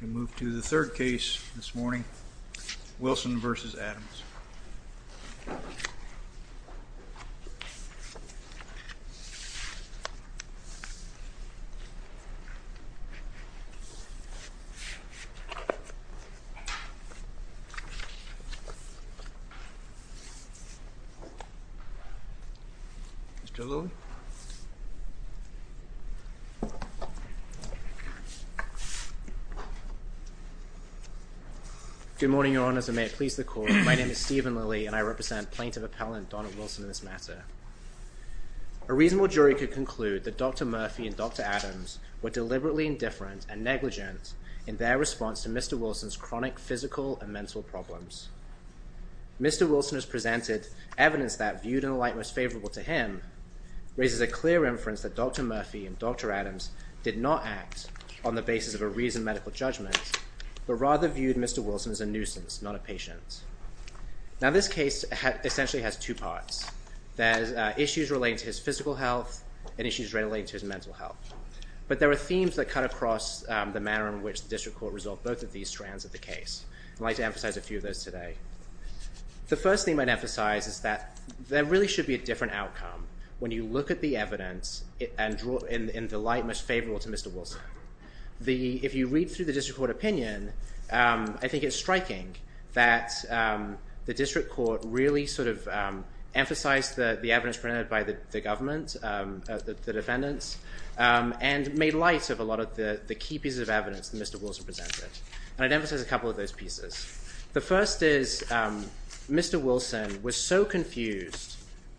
We move to the third case this morning, Wilson v. Adams. Mr. Lilly? Good morning, Your Honors, and may it please the Court, My name is Stephen Lilly, and I represent Plaintiff Appellant Donald Wilson in this matter. A reasonable jury could conclude that Dr. Murphy and Dr. Adams were deliberately indifferent and negligent in their response to Mr. Wilson's chronic physical and mental problems. Mr. Wilson has presented evidence that, viewed in a light most favorable to him, raises a clear inference that Dr. Murphy and Dr. Adams did not act on the basis of a reasoned medical judgment, but rather viewed Mr. Wilson as a nuisance, not a patient. Now this case essentially has two parts. There's issues relating to his physical health and issues relating to his mental health. But there are themes that cut across the manner in which the District Court resolved both of these strands of the case. I'd like to emphasize a few of those today. The first thing I'd emphasize is that there really should be a different outcome when you look at the evidence in the light most favorable to Mr. Wilson. If you read through the District Court opinion, I think it's striking that the District Court really sort of emphasized the evidence presented by the government, the defendants, and made light of a lot of the key pieces of evidence that Mr. Wilson presented. And I'd emphasize a couple of those pieces. The first is Mr. Wilson was so confused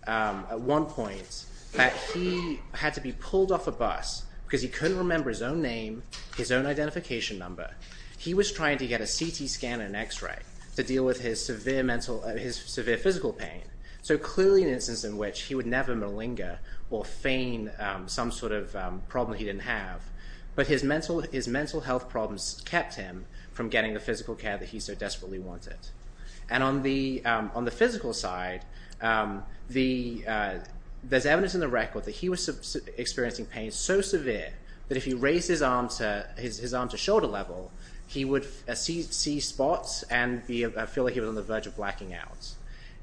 at one point that he had to be pulled off a bus because he couldn't remember his own name, his own identification number. He was trying to get a CT scan and an X-ray to deal with his severe physical pain, so clearly an instance in which he would never malinger or feign some sort of problem he didn't have. But his mental health problems kept him from getting the physical care that he so desperately wanted. And on the physical side, there's evidence in the record that he was experiencing pain so severe that if he raised his arm to shoulder level, he would see spots and feel like he was on the verge of blacking out.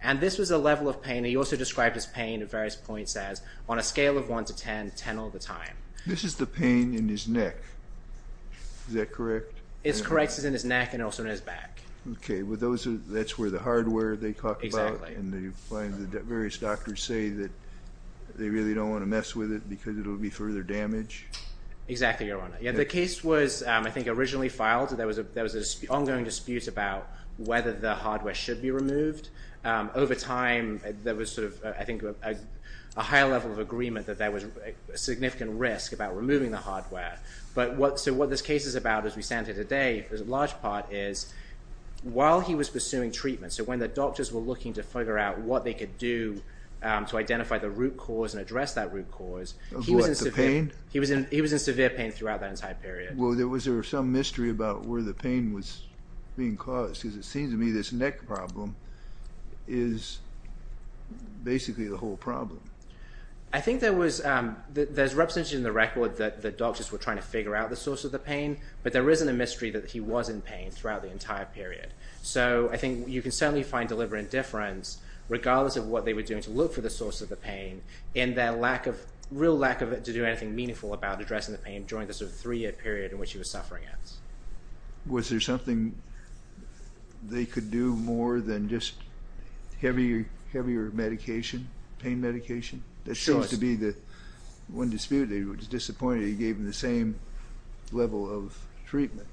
And this was a level of pain. He also described his pain at various points as on a scale of 1 to 10, 10 all the time. This is the pain in his neck. Is that correct? It's correct. It's in his neck and also in his back. Okay. Well, that's where the hardware they talked about. Exactly. And the various doctors say that they really don't want to mess with it because it will be further damage. Exactly, Your Honor. The case was, I think, originally filed. There was an ongoing dispute about whether the hardware should be removed. Over time, there was sort of, I think, a higher level of agreement that there was a significant risk about removing the hardware. So what this case is about as we stand here today, for the large part, is while he was pursuing treatment, so when the doctors were looking to figure out what they could do to identify the root cause and address that root cause, he was in severe pain throughout that entire period. Well, was there some mystery about where the pain was being caused? Because it seems to me this neck problem is basically the whole problem. I think there was representation in the record that the doctors were trying to figure out the source of the pain, but there isn't a mystery that he was in pain throughout the entire period. So I think you can certainly find deliberate indifference, regardless of what they were doing to look for the source of the pain, in their real lack to do anything meaningful about addressing the pain during the three-year period in which he was suffering it. Was there something they could do more than just heavier pain medication? Sure. That seems to be the one dispute. They were disappointed he gave them the same level of treatment.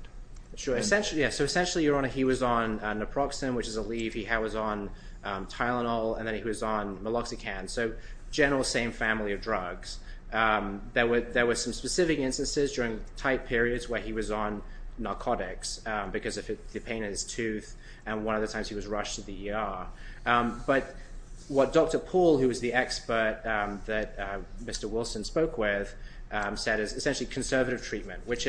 Sure. So essentially, Your Honor, he was on naproxen, which is a leave. He was on Tylenol, and then he was on meloxicam. So general same family of drugs. There were some specific instances during tight periods where he was on narcotics because of the pain in his tooth, and one of the times he was rushed to the ER. But what Dr. Poole, who was the expert that Mr. Wilson spoke with, said is essentially conservative treatment, which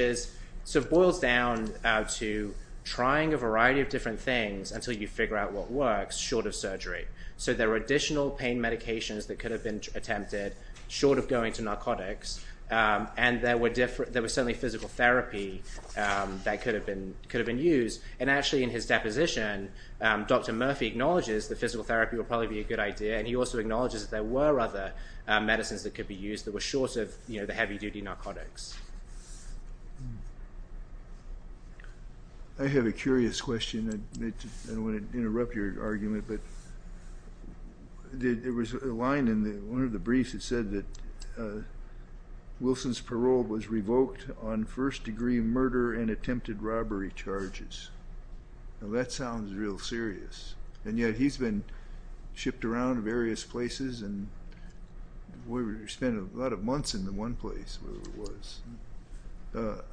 boils down to trying a variety of different things until you figure out what works, short of surgery. So there were additional pain medications that could have been attempted short of going to narcotics, and there was certainly physical therapy that could have been used. And actually, in his deposition, Dr. Murphy acknowledges that physical therapy would probably be a good idea, and he also acknowledges that there were other medicines that could be used that were short of the heavy-duty narcotics. I have a curious question. I don't want to interrupt your argument, but there was a line in one of the briefs that said that Wilson's parole was revoked on first-degree murder and attempted robbery charges. Now, that sounds real serious, and yet he's been shipped around to various places, and we spent a lot of months in the one place where it was.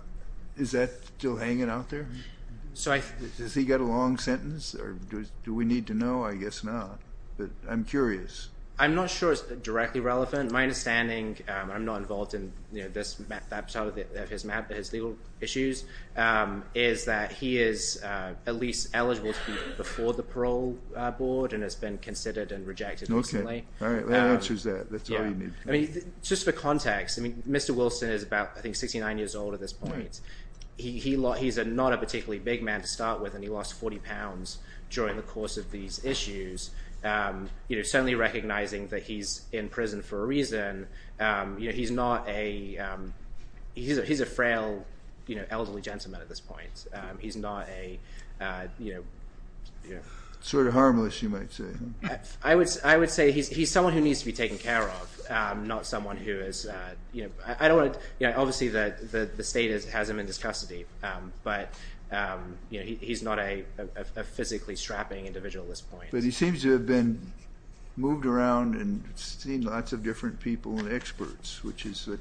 Is that still hanging out there? Has he got a long sentence, or do we need to know? I guess not, but I'm curious. I'm not sure it's directly relevant. My understanding, and I'm not involved in that part of his legal issues, is that he is at least eligible to be before the parole board and has been considered and rejected recently. Okay. All right. That answers that. That's all you need to know. Just for context, Mr. Wilson is about, I think, 69 years old at this point. He's not a particularly big man to start with, and he lost 40 pounds during the course of these issues. Certainly recognizing that he's in prison for a reason, he's a frail elderly gentleman at this point. Sort of harmless, you might say. I would say he's someone who needs to be taken care of, not someone who is— Obviously, the state has him in its custody, but he's not a physically strapping individual at this point. But he seems to have been moved around and seen lots of different people and experts, which is what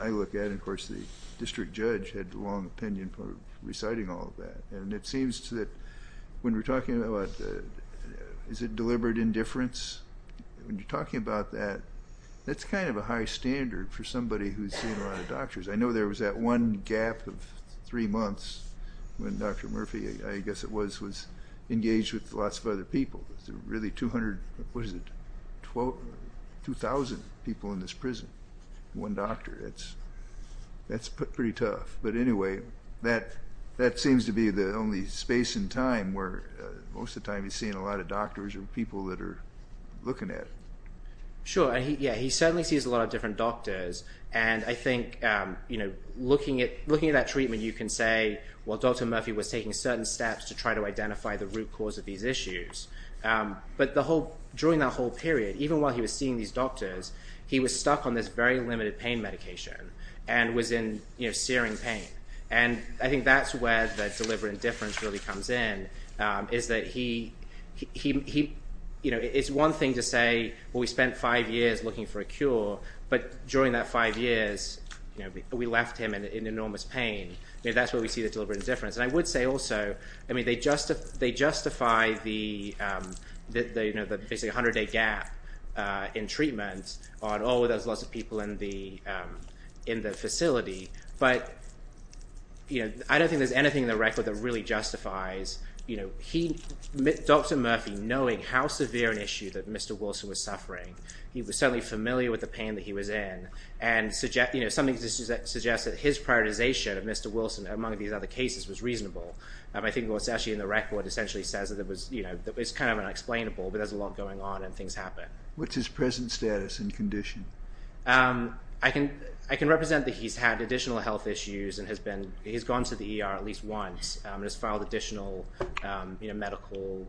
I look at. Of course, the district judge had a long opinion for reciting all of that, and it seems that when we're talking about—is it deliberate indifference? When you're talking about that, that's kind of a high standard for somebody who's seen a lot of doctors. I know there was that one gap of three months when Dr. Murphy, I guess it was, was engaged with lots of other people. There's really 200—what is it? 2,000 people in this prison, one doctor. That's pretty tough. But anyway, that seems to be the only space and time where most of the time he's seen a lot of doctors or people that are looking at him. Sure. He certainly sees a lot of different doctors, and I think looking at that treatment, you can say, well, Dr. Murphy was taking certain steps to try to identify the root cause of these issues. But during that whole period, even while he was seeing these doctors, he was stuck on this very limited pain medication and was in searing pain. And I think that's where the deliberate indifference really comes in, is that he—it's one thing to say, well, we spent five years looking for a cure, but during that five years, we left him in enormous pain. That's where we see the deliberate indifference. And I would say also, I mean, they justify the basically 100-day gap in treatment on, oh, there's lots of people in the facility. But I don't think there's anything in the record that really justifies Dr. Murphy knowing how severe an issue that Mr. Wilson was suffering. He was certainly familiar with the pain that he was in. And something suggests that his prioritization of Mr. Wilson, among these other cases, was reasonable. I think what's actually in the record essentially says that it was—it's kind of unexplainable, but there's a lot going on and things happen. What's his present status and condition? I can represent that he's had additional health issues and has been—he's gone to the ER at least once and has filed additional medical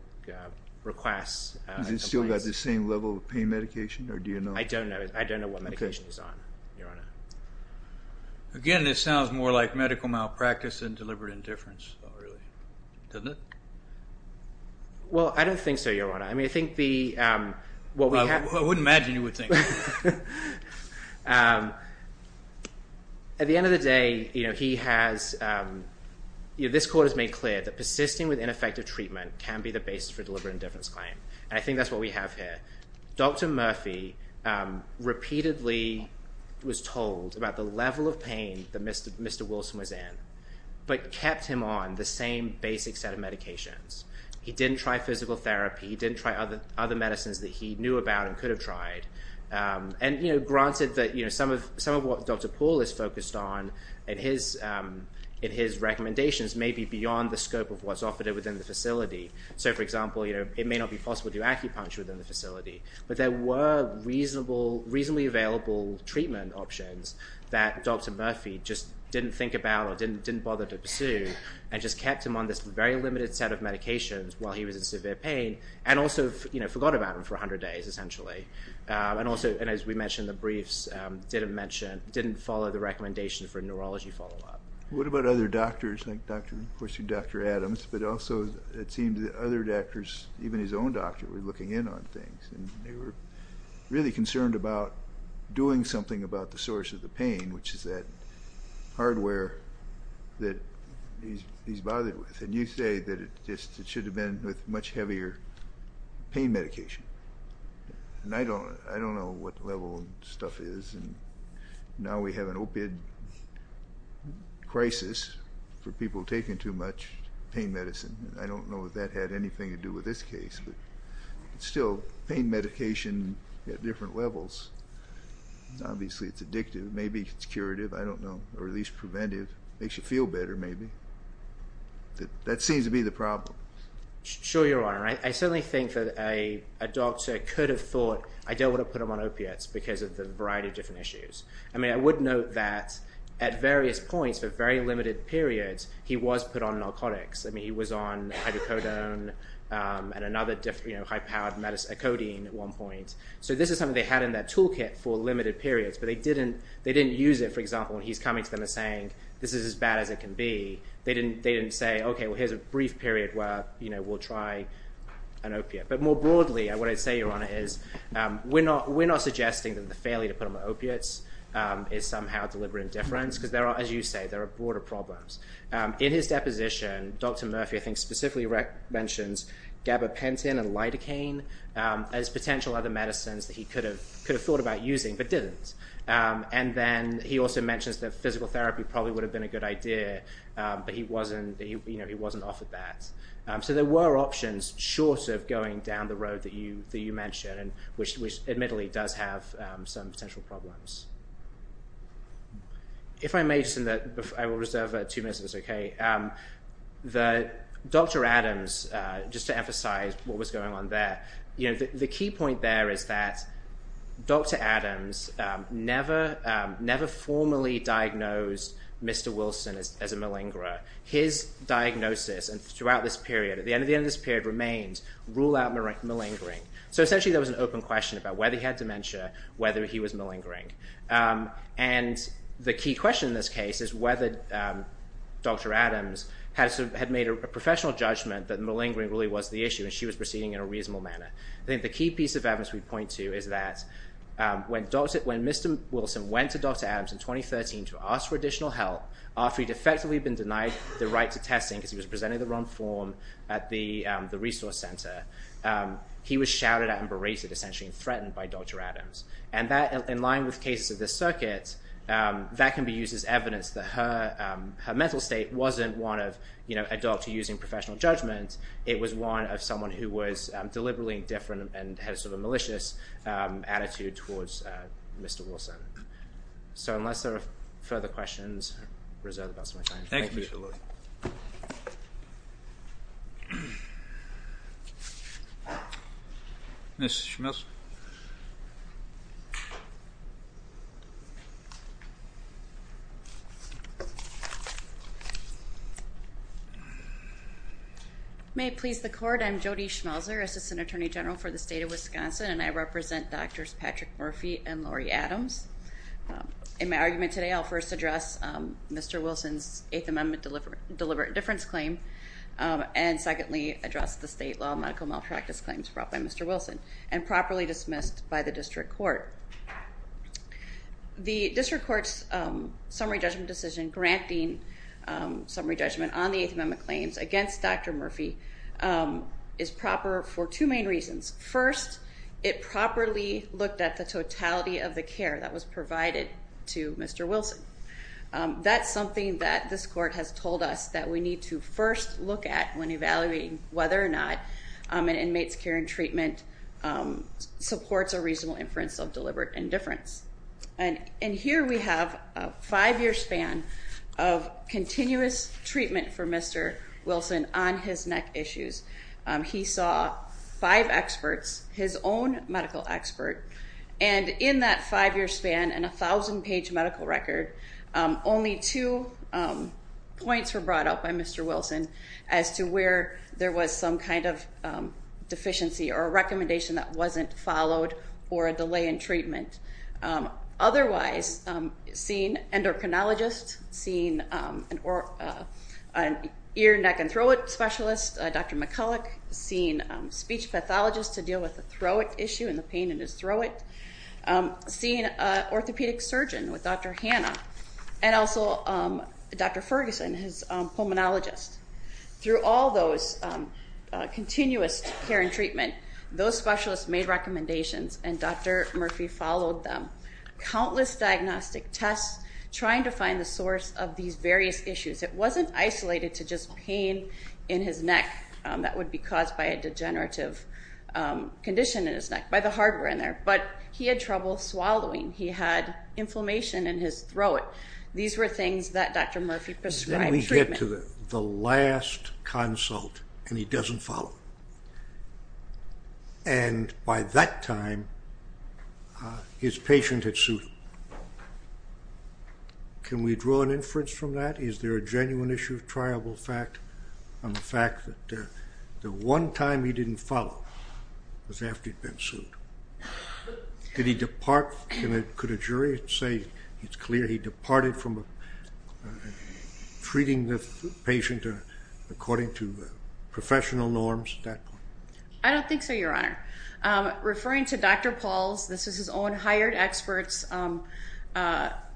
requests. Has he still got the same level of pain medication, or do you know? I don't know. I don't know what medication he's on, Your Honor. Again, this sounds more like medical malpractice than deliberate indifference, really, doesn't it? Well, I don't think so, Your Honor. I mean, I think the— I wouldn't imagine you would think that. At the end of the day, he has—this court has made clear that persisting with ineffective treatment can be the basis for deliberate indifference claim. And I think that's what we have here. Dr. Murphy repeatedly was told about the level of pain that Mr. Wilson was in, but kept him on the same basic set of medications. He didn't try physical therapy. He didn't try other medicines that he knew about and could have tried. And granted that some of what Dr. Poole is focused on in his recommendations may be beyond the scope of what's offered within the facility. So, for example, it may not be possible to do acupuncture within the facility. But there were reasonably available treatment options that Dr. Murphy just didn't think about or didn't bother to pursue and just kept him on this very limited set of medications while he was in severe pain and also forgot about them for 100 days, essentially. And also, as we mentioned, the briefs didn't follow the recommendation for a neurology follow-up. What about other doctors, like Dr. Adams? But also it seemed that other doctors, even his own doctor, were looking in on things. And they were really concerned about doing something about the source of the pain, which is that hardware that he's bothered with. And you say that it should have been with much heavier pain medication. And I don't know what the level of stuff is. And now we have an opiate crisis for people taking too much pain medicine. I don't know if that had anything to do with this case. But still, pain medication at different levels, obviously it's addictive. Maybe it's curative, I don't know, or at least preventive. Makes you feel better, maybe. That seems to be the problem. Sure, Your Honor. I certainly think that a doctor could have thought, I don't want to put him on opiates because of the variety of different issues. I mean, I would note that at various points, for very limited periods, he was put on narcotics. I mean, he was on hydrocodone and another high-powered medicine, codeine, at one point. So this is something they had in their toolkit for limited periods. But they didn't use it, for example, when he's coming to them and saying, this is as bad as it can be. They didn't say, okay, well, here's a brief period where we'll try an opiate. But more broadly, what I'd say, Your Honor, is we're not suggesting that the failure to put him on opiates is somehow a deliberate indifference. Because there are, as you say, there are broader problems. In his deposition, Dr. Murphy, I think, specifically mentions gabapentin and lidocaine as potential other medicines that he could have thought about using but didn't. And then he also mentions that physical therapy probably would have been a good idea, but he wasn't offered that. So there were options short of going down the road that you mentioned, which admittedly does have some potential problems. If I may, I will reserve two minutes of this, okay? Dr. Adams, just to emphasize what was going on there, the key point there is that Dr. Adams never formally diagnosed Mr. Wilson as a malingerer. His diagnosis throughout this period, at the end of this period, remained rule out malingering. So essentially, there was an open question about whether he had dementia, whether he was malingering. And the key question in this case is whether Dr. Adams had made a professional judgment that malingering really was the issue and she was proceeding in a reasonable manner. I think the key piece of evidence we point to is that when Mr. Wilson went to Dr. Adams in 2013 to ask for additional help, after he'd effectively been denied the right to testing because he was presenting the wrong form at the resource center, he was shouted at and berated, essentially, and threatened by Dr. Adams. And that, in line with cases of this circuit, that can be used as evidence that her mental state wasn't one of a doctor using professional judgment. It was one of someone who was deliberately indifferent and had a sort of malicious attitude towards Mr. Wilson. So unless there are further questions, I reserve the balance of my time. Thank you. Thank you. Ms. Schmelzer. May it please the Court, I'm Jody Schmelzer, Assistant Attorney General for the State of Wisconsin, and I represent Drs. Patrick Murphy and Lori Adams. In my argument today, I'll first address Mr. Wilson's Eighth Amendment deliberate indifference claim, and secondly address the state law medical malpractice claims brought by Mr. Wilson and properly dismissed by the district court. The district court's summary judgment decision granting summary judgment on the Eighth Amendment claims against Dr. Murphy is proper for two main reasons. First, it properly looked at the totality of the care that was provided to Mr. Wilson. That's something that this court has told us that we need to first look at when evaluating whether or not an inmate's care and treatment supports a reasonable inference of deliberate indifference. And here we have a five-year span of continuous treatment for Mr. Wilson on his neck issues. He saw five experts, his own medical expert, and in that five-year span and a thousand-page medical record, only two points were brought up by Mr. Wilson as to where there was some kind of deficiency or a recommendation that wasn't followed or a delay in treatment. Otherwise, seeing endocrinologists, seeing an ear, neck, and throat specialist, Dr. McCulloch, seeing speech pathologists to deal with the throat issue and the pain in his throat, seeing an orthopedic surgeon with Dr. Hanna, and also Dr. Ferguson, his pulmonologist. Through all those continuous care and treatment, those specialists made recommendations and Dr. Murphy followed them. Countless diagnostic tests, trying to find the source of these various issues. It wasn't isolated to just pain in his neck that would be caused by a degenerative condition in his neck, by the hardware in there, but he had trouble swallowing, he had inflammation in his throat. We get to the last consult and he doesn't follow. And by that time, his patient had sued him. Can we draw an inference from that? Is there a genuine issue of triable fact on the fact that the one time he didn't follow was after he'd been sued? Could a jury say it's clear he departed from treating the patient according to professional norms at that point? I don't think so, Your Honor. Referring to Dr. Paul's, this is his own hired expert's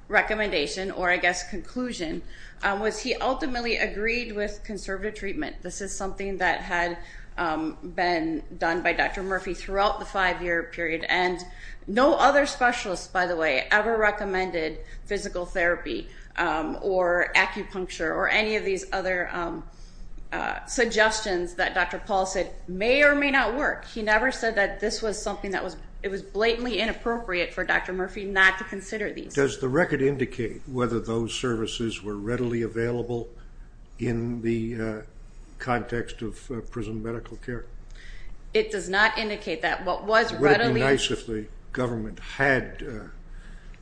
recommendation, or I guess conclusion, was he ultimately agreed with conservative treatment. This is something that had been done by Dr. Murphy throughout the five-year period, and no other specialist, by the way, ever recommended physical therapy or acupuncture or any of these other suggestions that Dr. Paul said may or may not work. He never said that this was something that was blatantly inappropriate for Dr. Murphy not to consider these. Does the record indicate whether those services were readily available in the context of prison medical care? It does not indicate that. Would it be nice if the government had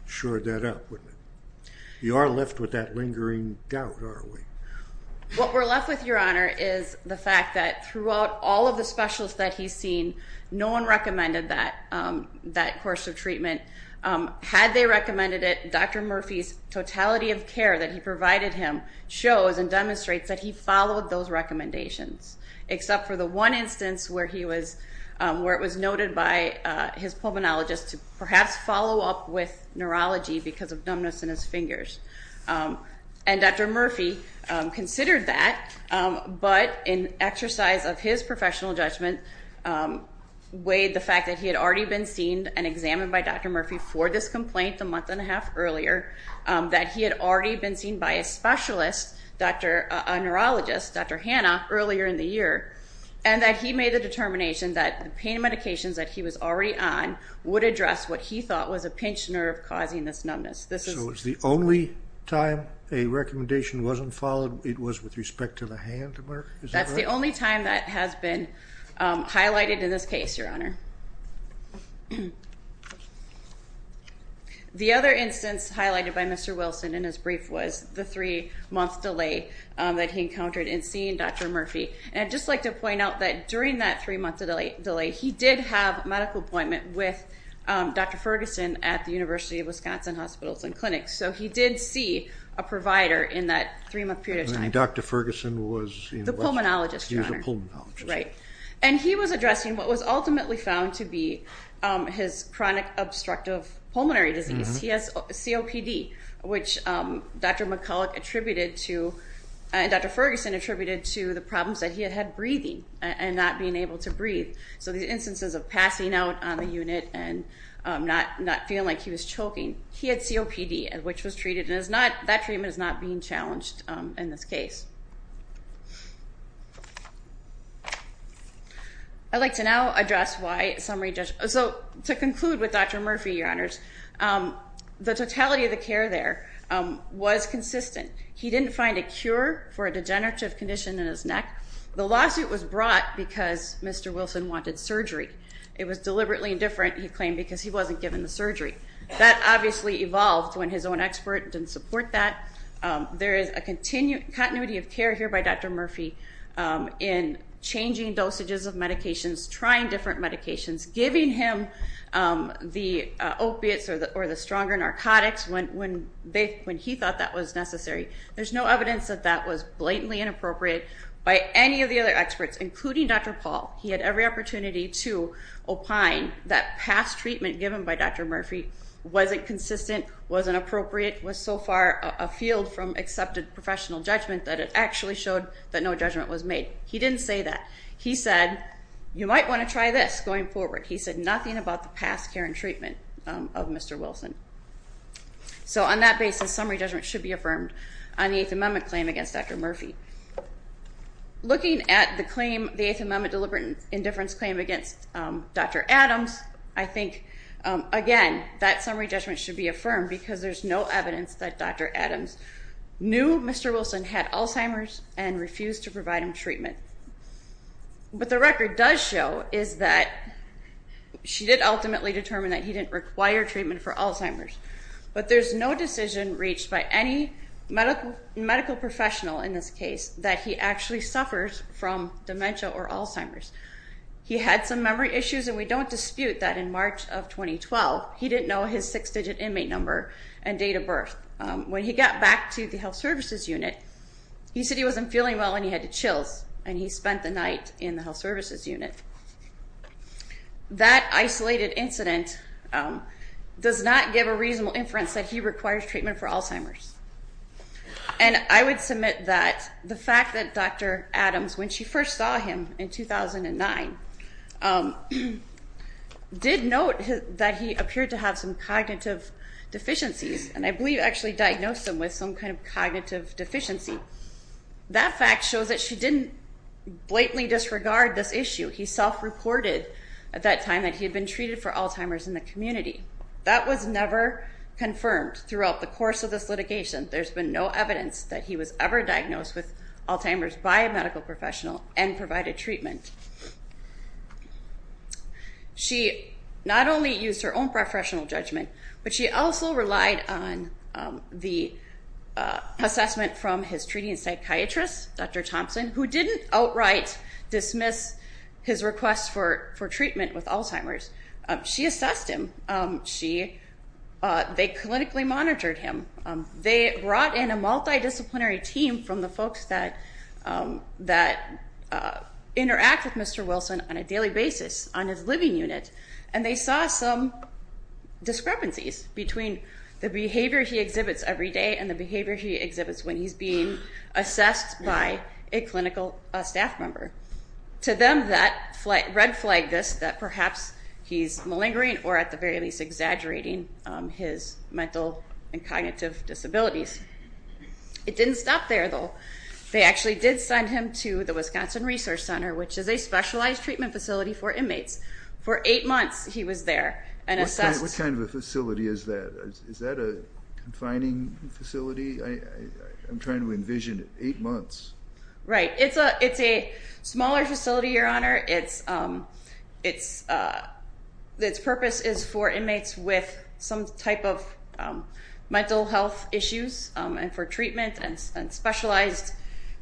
sured that up? You are left with that lingering doubt, are we? What we're left with, Your Honor, is the fact that throughout all of the specialists that he's seen, no one recommended that course of treatment. Had they recommended it, Dr. Murphy's totality of care that he provided him shows and demonstrates that he followed those recommendations, except for the one instance where it was noted by his pulmonologist to perhaps follow up with neurology because of numbness in his fingers. And Dr. Murphy considered that, but in exercise of his professional judgment, weighed the fact that he had already been seen and examined by Dr. Murphy for this complaint a month and a half earlier, that he had already been seen by a specialist, a neurologist, Dr. Hanna, earlier in the year, and that he made the determination that the pain medications that he was already on would address what he thought was a pinched nerve causing this numbness. So it's the only time a recommendation wasn't followed, it was with respect to the hand, is that right? It's the only time that has been highlighted in this case, Your Honor. The other instance highlighted by Mr. Wilson in his brief was the three-month delay that he encountered in seeing Dr. Murphy. And I'd just like to point out that during that three-month delay, he did have a medical appointment with Dr. Ferguson at the University of Wisconsin Hospitals and Clinics. So he did see a provider in that three-month period of time. And Dr. Ferguson was... The pulmonologist, Your Honor. He was a pulmonologist. Right. And he was addressing what was ultimately found to be his chronic obstructive pulmonary disease. He has COPD, which Dr. McCulloch attributed to, and Dr. Ferguson attributed to, the problems that he had had breathing and not being able to breathe. So these instances of passing out on the unit and not feeling like he was choking, he had COPD, which was treated, and that treatment is not being challenged in this case. I'd like to now address why summary... So to conclude with Dr. Murphy, Your Honors, the totality of the care there was consistent. He didn't find a cure for a degenerative condition in his neck. The lawsuit was brought because Mr. Wilson wanted surgery. It was deliberately indifferent, he claimed, because he wasn't given the surgery. That obviously evolved when his own expert didn't support that. There is a continuity of care here by Dr. Murphy in changing dosages of medications, trying different medications, giving him the opiates or the stronger narcotics when he thought that was necessary. There's no evidence that that was blatantly inappropriate by any of the other experts, including Dr. Paul. He had every opportunity to opine that past treatment given by Dr. Murphy wasn't consistent, wasn't appropriate, was so far afield from accepted professional judgment that it actually showed that no judgment was made. He didn't say that. He said, you might want to try this going forward. He said nothing about the past care and treatment of Mr. Wilson. So on that basis, summary judgment should be affirmed on the Eighth Amendment claim against Dr. Murphy. Looking at the Eighth Amendment deliberate indifference claim against Dr. Adams, I think, again, that summary judgment should be affirmed because there's no evidence that Dr. Adams knew Mr. Wilson had Alzheimer's and refused to provide him treatment. What the record does show is that she did ultimately determine that he didn't require treatment for Alzheimer's. But there's no decision reached by any medical professional in this case that he actually suffers from dementia or Alzheimer's. He had some memory issues, and we don't dispute that in March of 2012, he didn't know his six-digit inmate number and date of birth. When he got back to the health services unit, he said he wasn't feeling well and he had the chills, and he spent the night in the health services unit. That isolated incident does not give a reasonable inference that he requires treatment for Alzheimer's. And I would submit that the fact that Dr. Adams, when she first saw him in 2009, did note that he appeared to have some cognitive deficiencies, and I believe actually diagnosed him with some kind of cognitive deficiency. That fact shows that she didn't blatantly disregard this issue. She self-reported at that time that he had been treated for Alzheimer's in the community. That was never confirmed throughout the course of this litigation. There's been no evidence that he was ever diagnosed with Alzheimer's by a medical professional and provided treatment. She not only used her own professional judgment, but she also relied on the assessment from his treating psychiatrist, Dr. Thompson, who didn't outright dismiss his request for treatment with Alzheimer's. She assessed him. They clinically monitored him. They brought in a multidisciplinary team from the folks that interact with Mr. Wilson on a daily basis on his living unit, and they saw some discrepancies between the behavior he exhibits every day and the behavior he exhibits when he's being assessed by a clinical staff member. To them, that red-flagged this, that perhaps he's malingering or, at the very least, exaggerating his mental and cognitive disabilities. It didn't stop there, though. They actually did send him to the Wisconsin Resource Center, which is a specialized treatment facility for inmates. For eight months, he was there and assessed... What kind of a facility is that? Is that a confining facility? I'm trying to envision it. Eight months. Right. It's a smaller facility, Your Honor. Its purpose is for inmates with some type of mental health issues and for treatment and specialized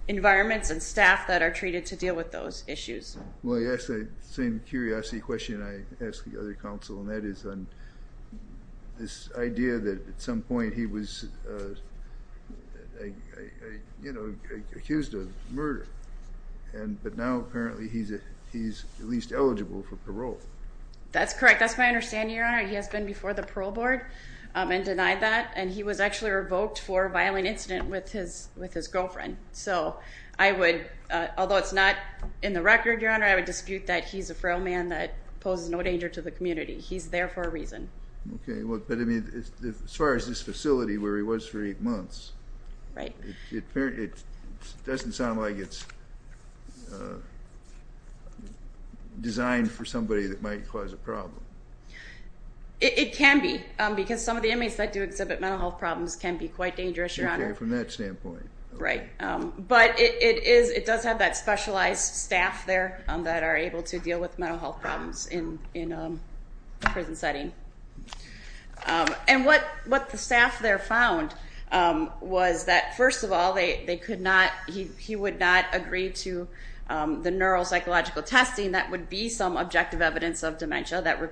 environments and staff that are treated to deal with those issues. Well, you asked the same curiosity question I asked the other counsel, and that is on this idea that, at some point, he was accused of murder, but now, apparently, he's at least eligible for parole. That's correct. That's my understanding, Your Honor. He has been before the parole board and denied that, and he was actually revoked for a violent incident with his girlfriend. So I would, although it's not in the record, Your Honor, I would dispute that he's a frail man that poses no danger to the community. He's there for a reason. Okay, but as far as this facility where he was for eight months... Right. It doesn't sound like it's designed for somebody that might cause a problem. It can be, because some of the inmates that do exhibit mental health problems can be quite dangerous, Your Honor. Okay, from that standpoint. Right, but it does have that specialized staff there that are able to deal with mental health problems in a prison setting. And what the staff there found was that, first of all, he would not agree to the neuropsychological testing that would be some objective evidence of dementia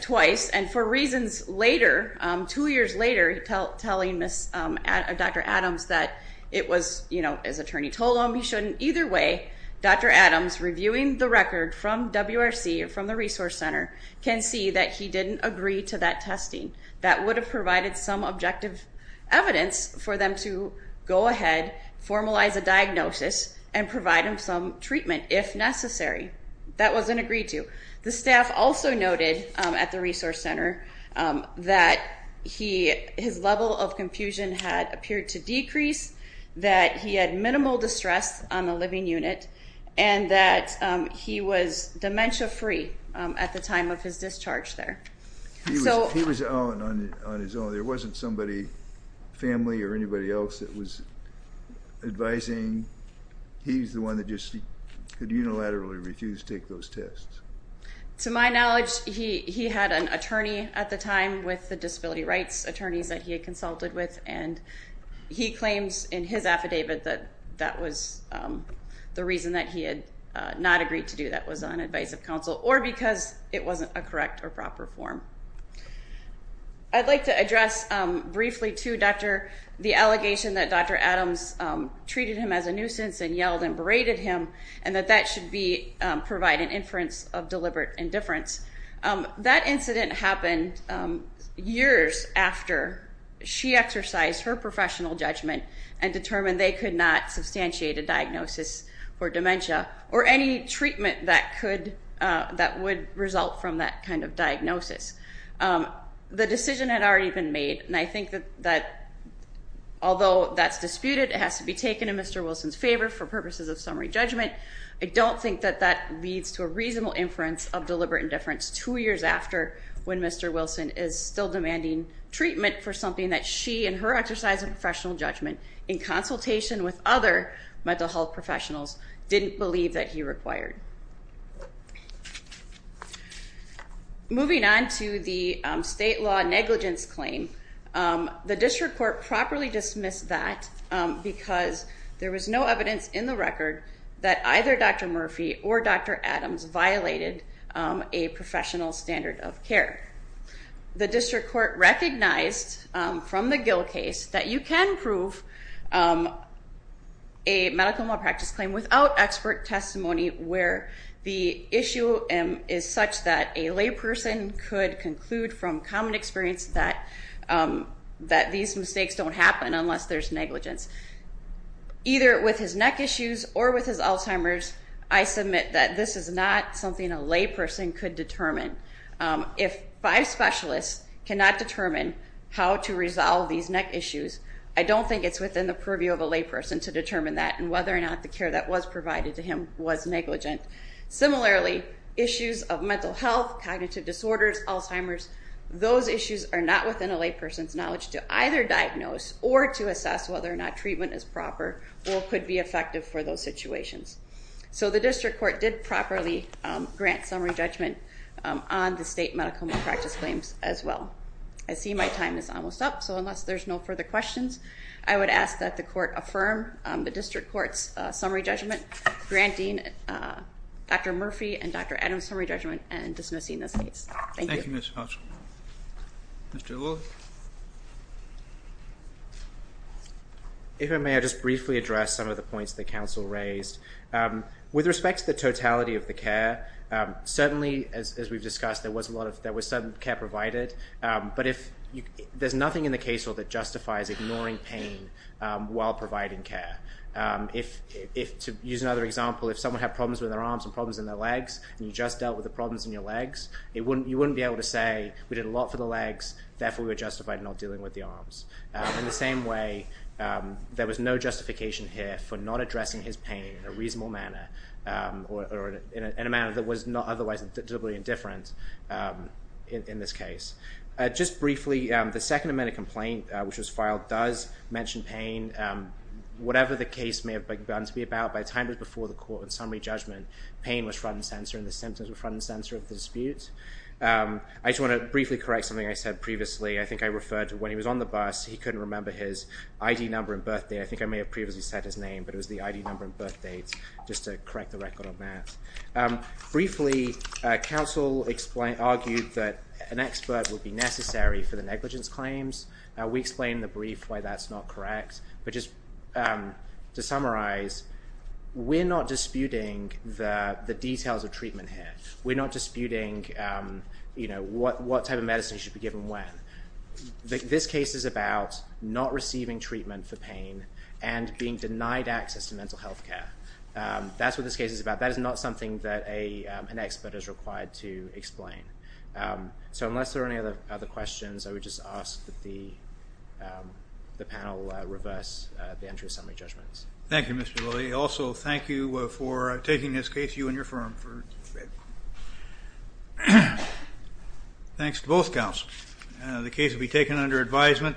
twice, and for reasons later, two years later, telling Dr. Adams that it was, as attorney told him, he shouldn't either way. Dr. Adams, reviewing the record from WRC, from the Resource Center, can see that he didn't agree to that testing. That would have provided some objective evidence for them to go ahead, formalize a diagnosis, and provide him some treatment if necessary. That wasn't agreed to. The staff also noted at the Resource Center that his level of confusion had appeared to decrease, that he had minimal distress on the living unit, and that he was dementia-free at the time of his discharge there. He was out on his own. There wasn't somebody, family or anybody else that was advising. He's the one that just could unilaterally refuse to take those tests. To my knowledge, he had an attorney at the time with the disability rights attorneys that he had consulted with, and he claims in his affidavit that that was the reason that he had not agreed to do that, was on advisive counsel, or because it wasn't a correct or proper form. I'd like to address briefly, too, Dr., the allegation that Dr. Adams treated him as a nuisance and yelled and berated him, and that that should provide an inference of deliberate indifference. That incident happened years after she exercised her professional judgment and determined they could not substantiate a diagnosis for dementia or any treatment that would result from that kind of diagnosis. The decision had already been made, and I think that although that's disputed, it has to be taken in Mr. Wilson's favor for purposes of summary judgment. I don't think that that leads to a reasonable inference of deliberate indifference two years after when Mr. Wilson is still demanding treatment for something that she and her exercise of professional judgment in consultation with other mental health professionals didn't believe that he required. Moving on to the state law negligence claim, the district court properly dismissed that because there was no evidence in the record that either Dr. Murphy or Dr. Adams had a professional standard of care. The district court recognized from the Gill case that you can prove a medical malpractice claim without expert testimony where the issue is such that a layperson could conclude from common experience that these mistakes don't happen unless there's negligence. Either with his neck issues or with his Alzheimer's, I submit that this is not something a layperson could determine. If five specialists cannot determine how to resolve these neck issues, I don't think it's within the purview of a layperson to determine that and whether or not the care that was provided to him was negligent. Similarly, issues of mental health, cognitive disorders, Alzheimer's, those issues are not within a layperson's knowledge to either diagnose or to assess whether or not treatment is proper or could be effective for those situations. So the district court did properly grant summary judgment on the state medical malpractice claims as well. I see my time is almost up, so unless there's no further questions, I would ask that the court affirm the district court's summary judgment, granting Dr. Murphy and Dr. Adams summary judgment and dismissing this case. Thank you. Thank you, Ms. Hodge. Mr. Lilley. If I may, I'll just briefly address some of the points that counsel raised. With respect to the totality of the care, certainly, as we've discussed, there was some care provided, but there's nothing in the case law that justifies ignoring pain while providing care. To use another example, if someone had problems with their arms and problems in their legs and you just dealt with the problems in your legs, you wouldn't be able to say, we did a lot for the legs, therefore we were justified in not dealing with the arms. In the same way, there was no justification here for not addressing his pain in a reasonable manner or in a manner that was not otherwise totally indifferent in this case. Just briefly, the second amendment complaint, which was filed, does mention pain. Whatever the case may have begun to be about, by the time it was before the court and summary judgment, pain was front and center and the symptoms were front and center of the dispute. I just want to briefly correct something I said previously. I think I referred to when he was on the bus, he couldn't remember his ID number and birthday. But it was the ID number and birth date just to correct the record on that. Briefly, counsel argued that an expert would be necessary for the negligence claims. We explained in the brief why that's not correct. But just to summarize, we're not disputing the details of treatment here. We're not disputing what type of medicine should be given when. This case is about not receiving treatment for pain and being denied access to mental health care. That's what this case is about. That is not something that an expert is required to explain. So unless there are any other questions, I would just ask that the panel reverse the entry of summary judgments. Thank you, Mr. Lilley. Also, thank you for taking this case, you and your firm. Thanks to both counsels. The case will be taken under advisement.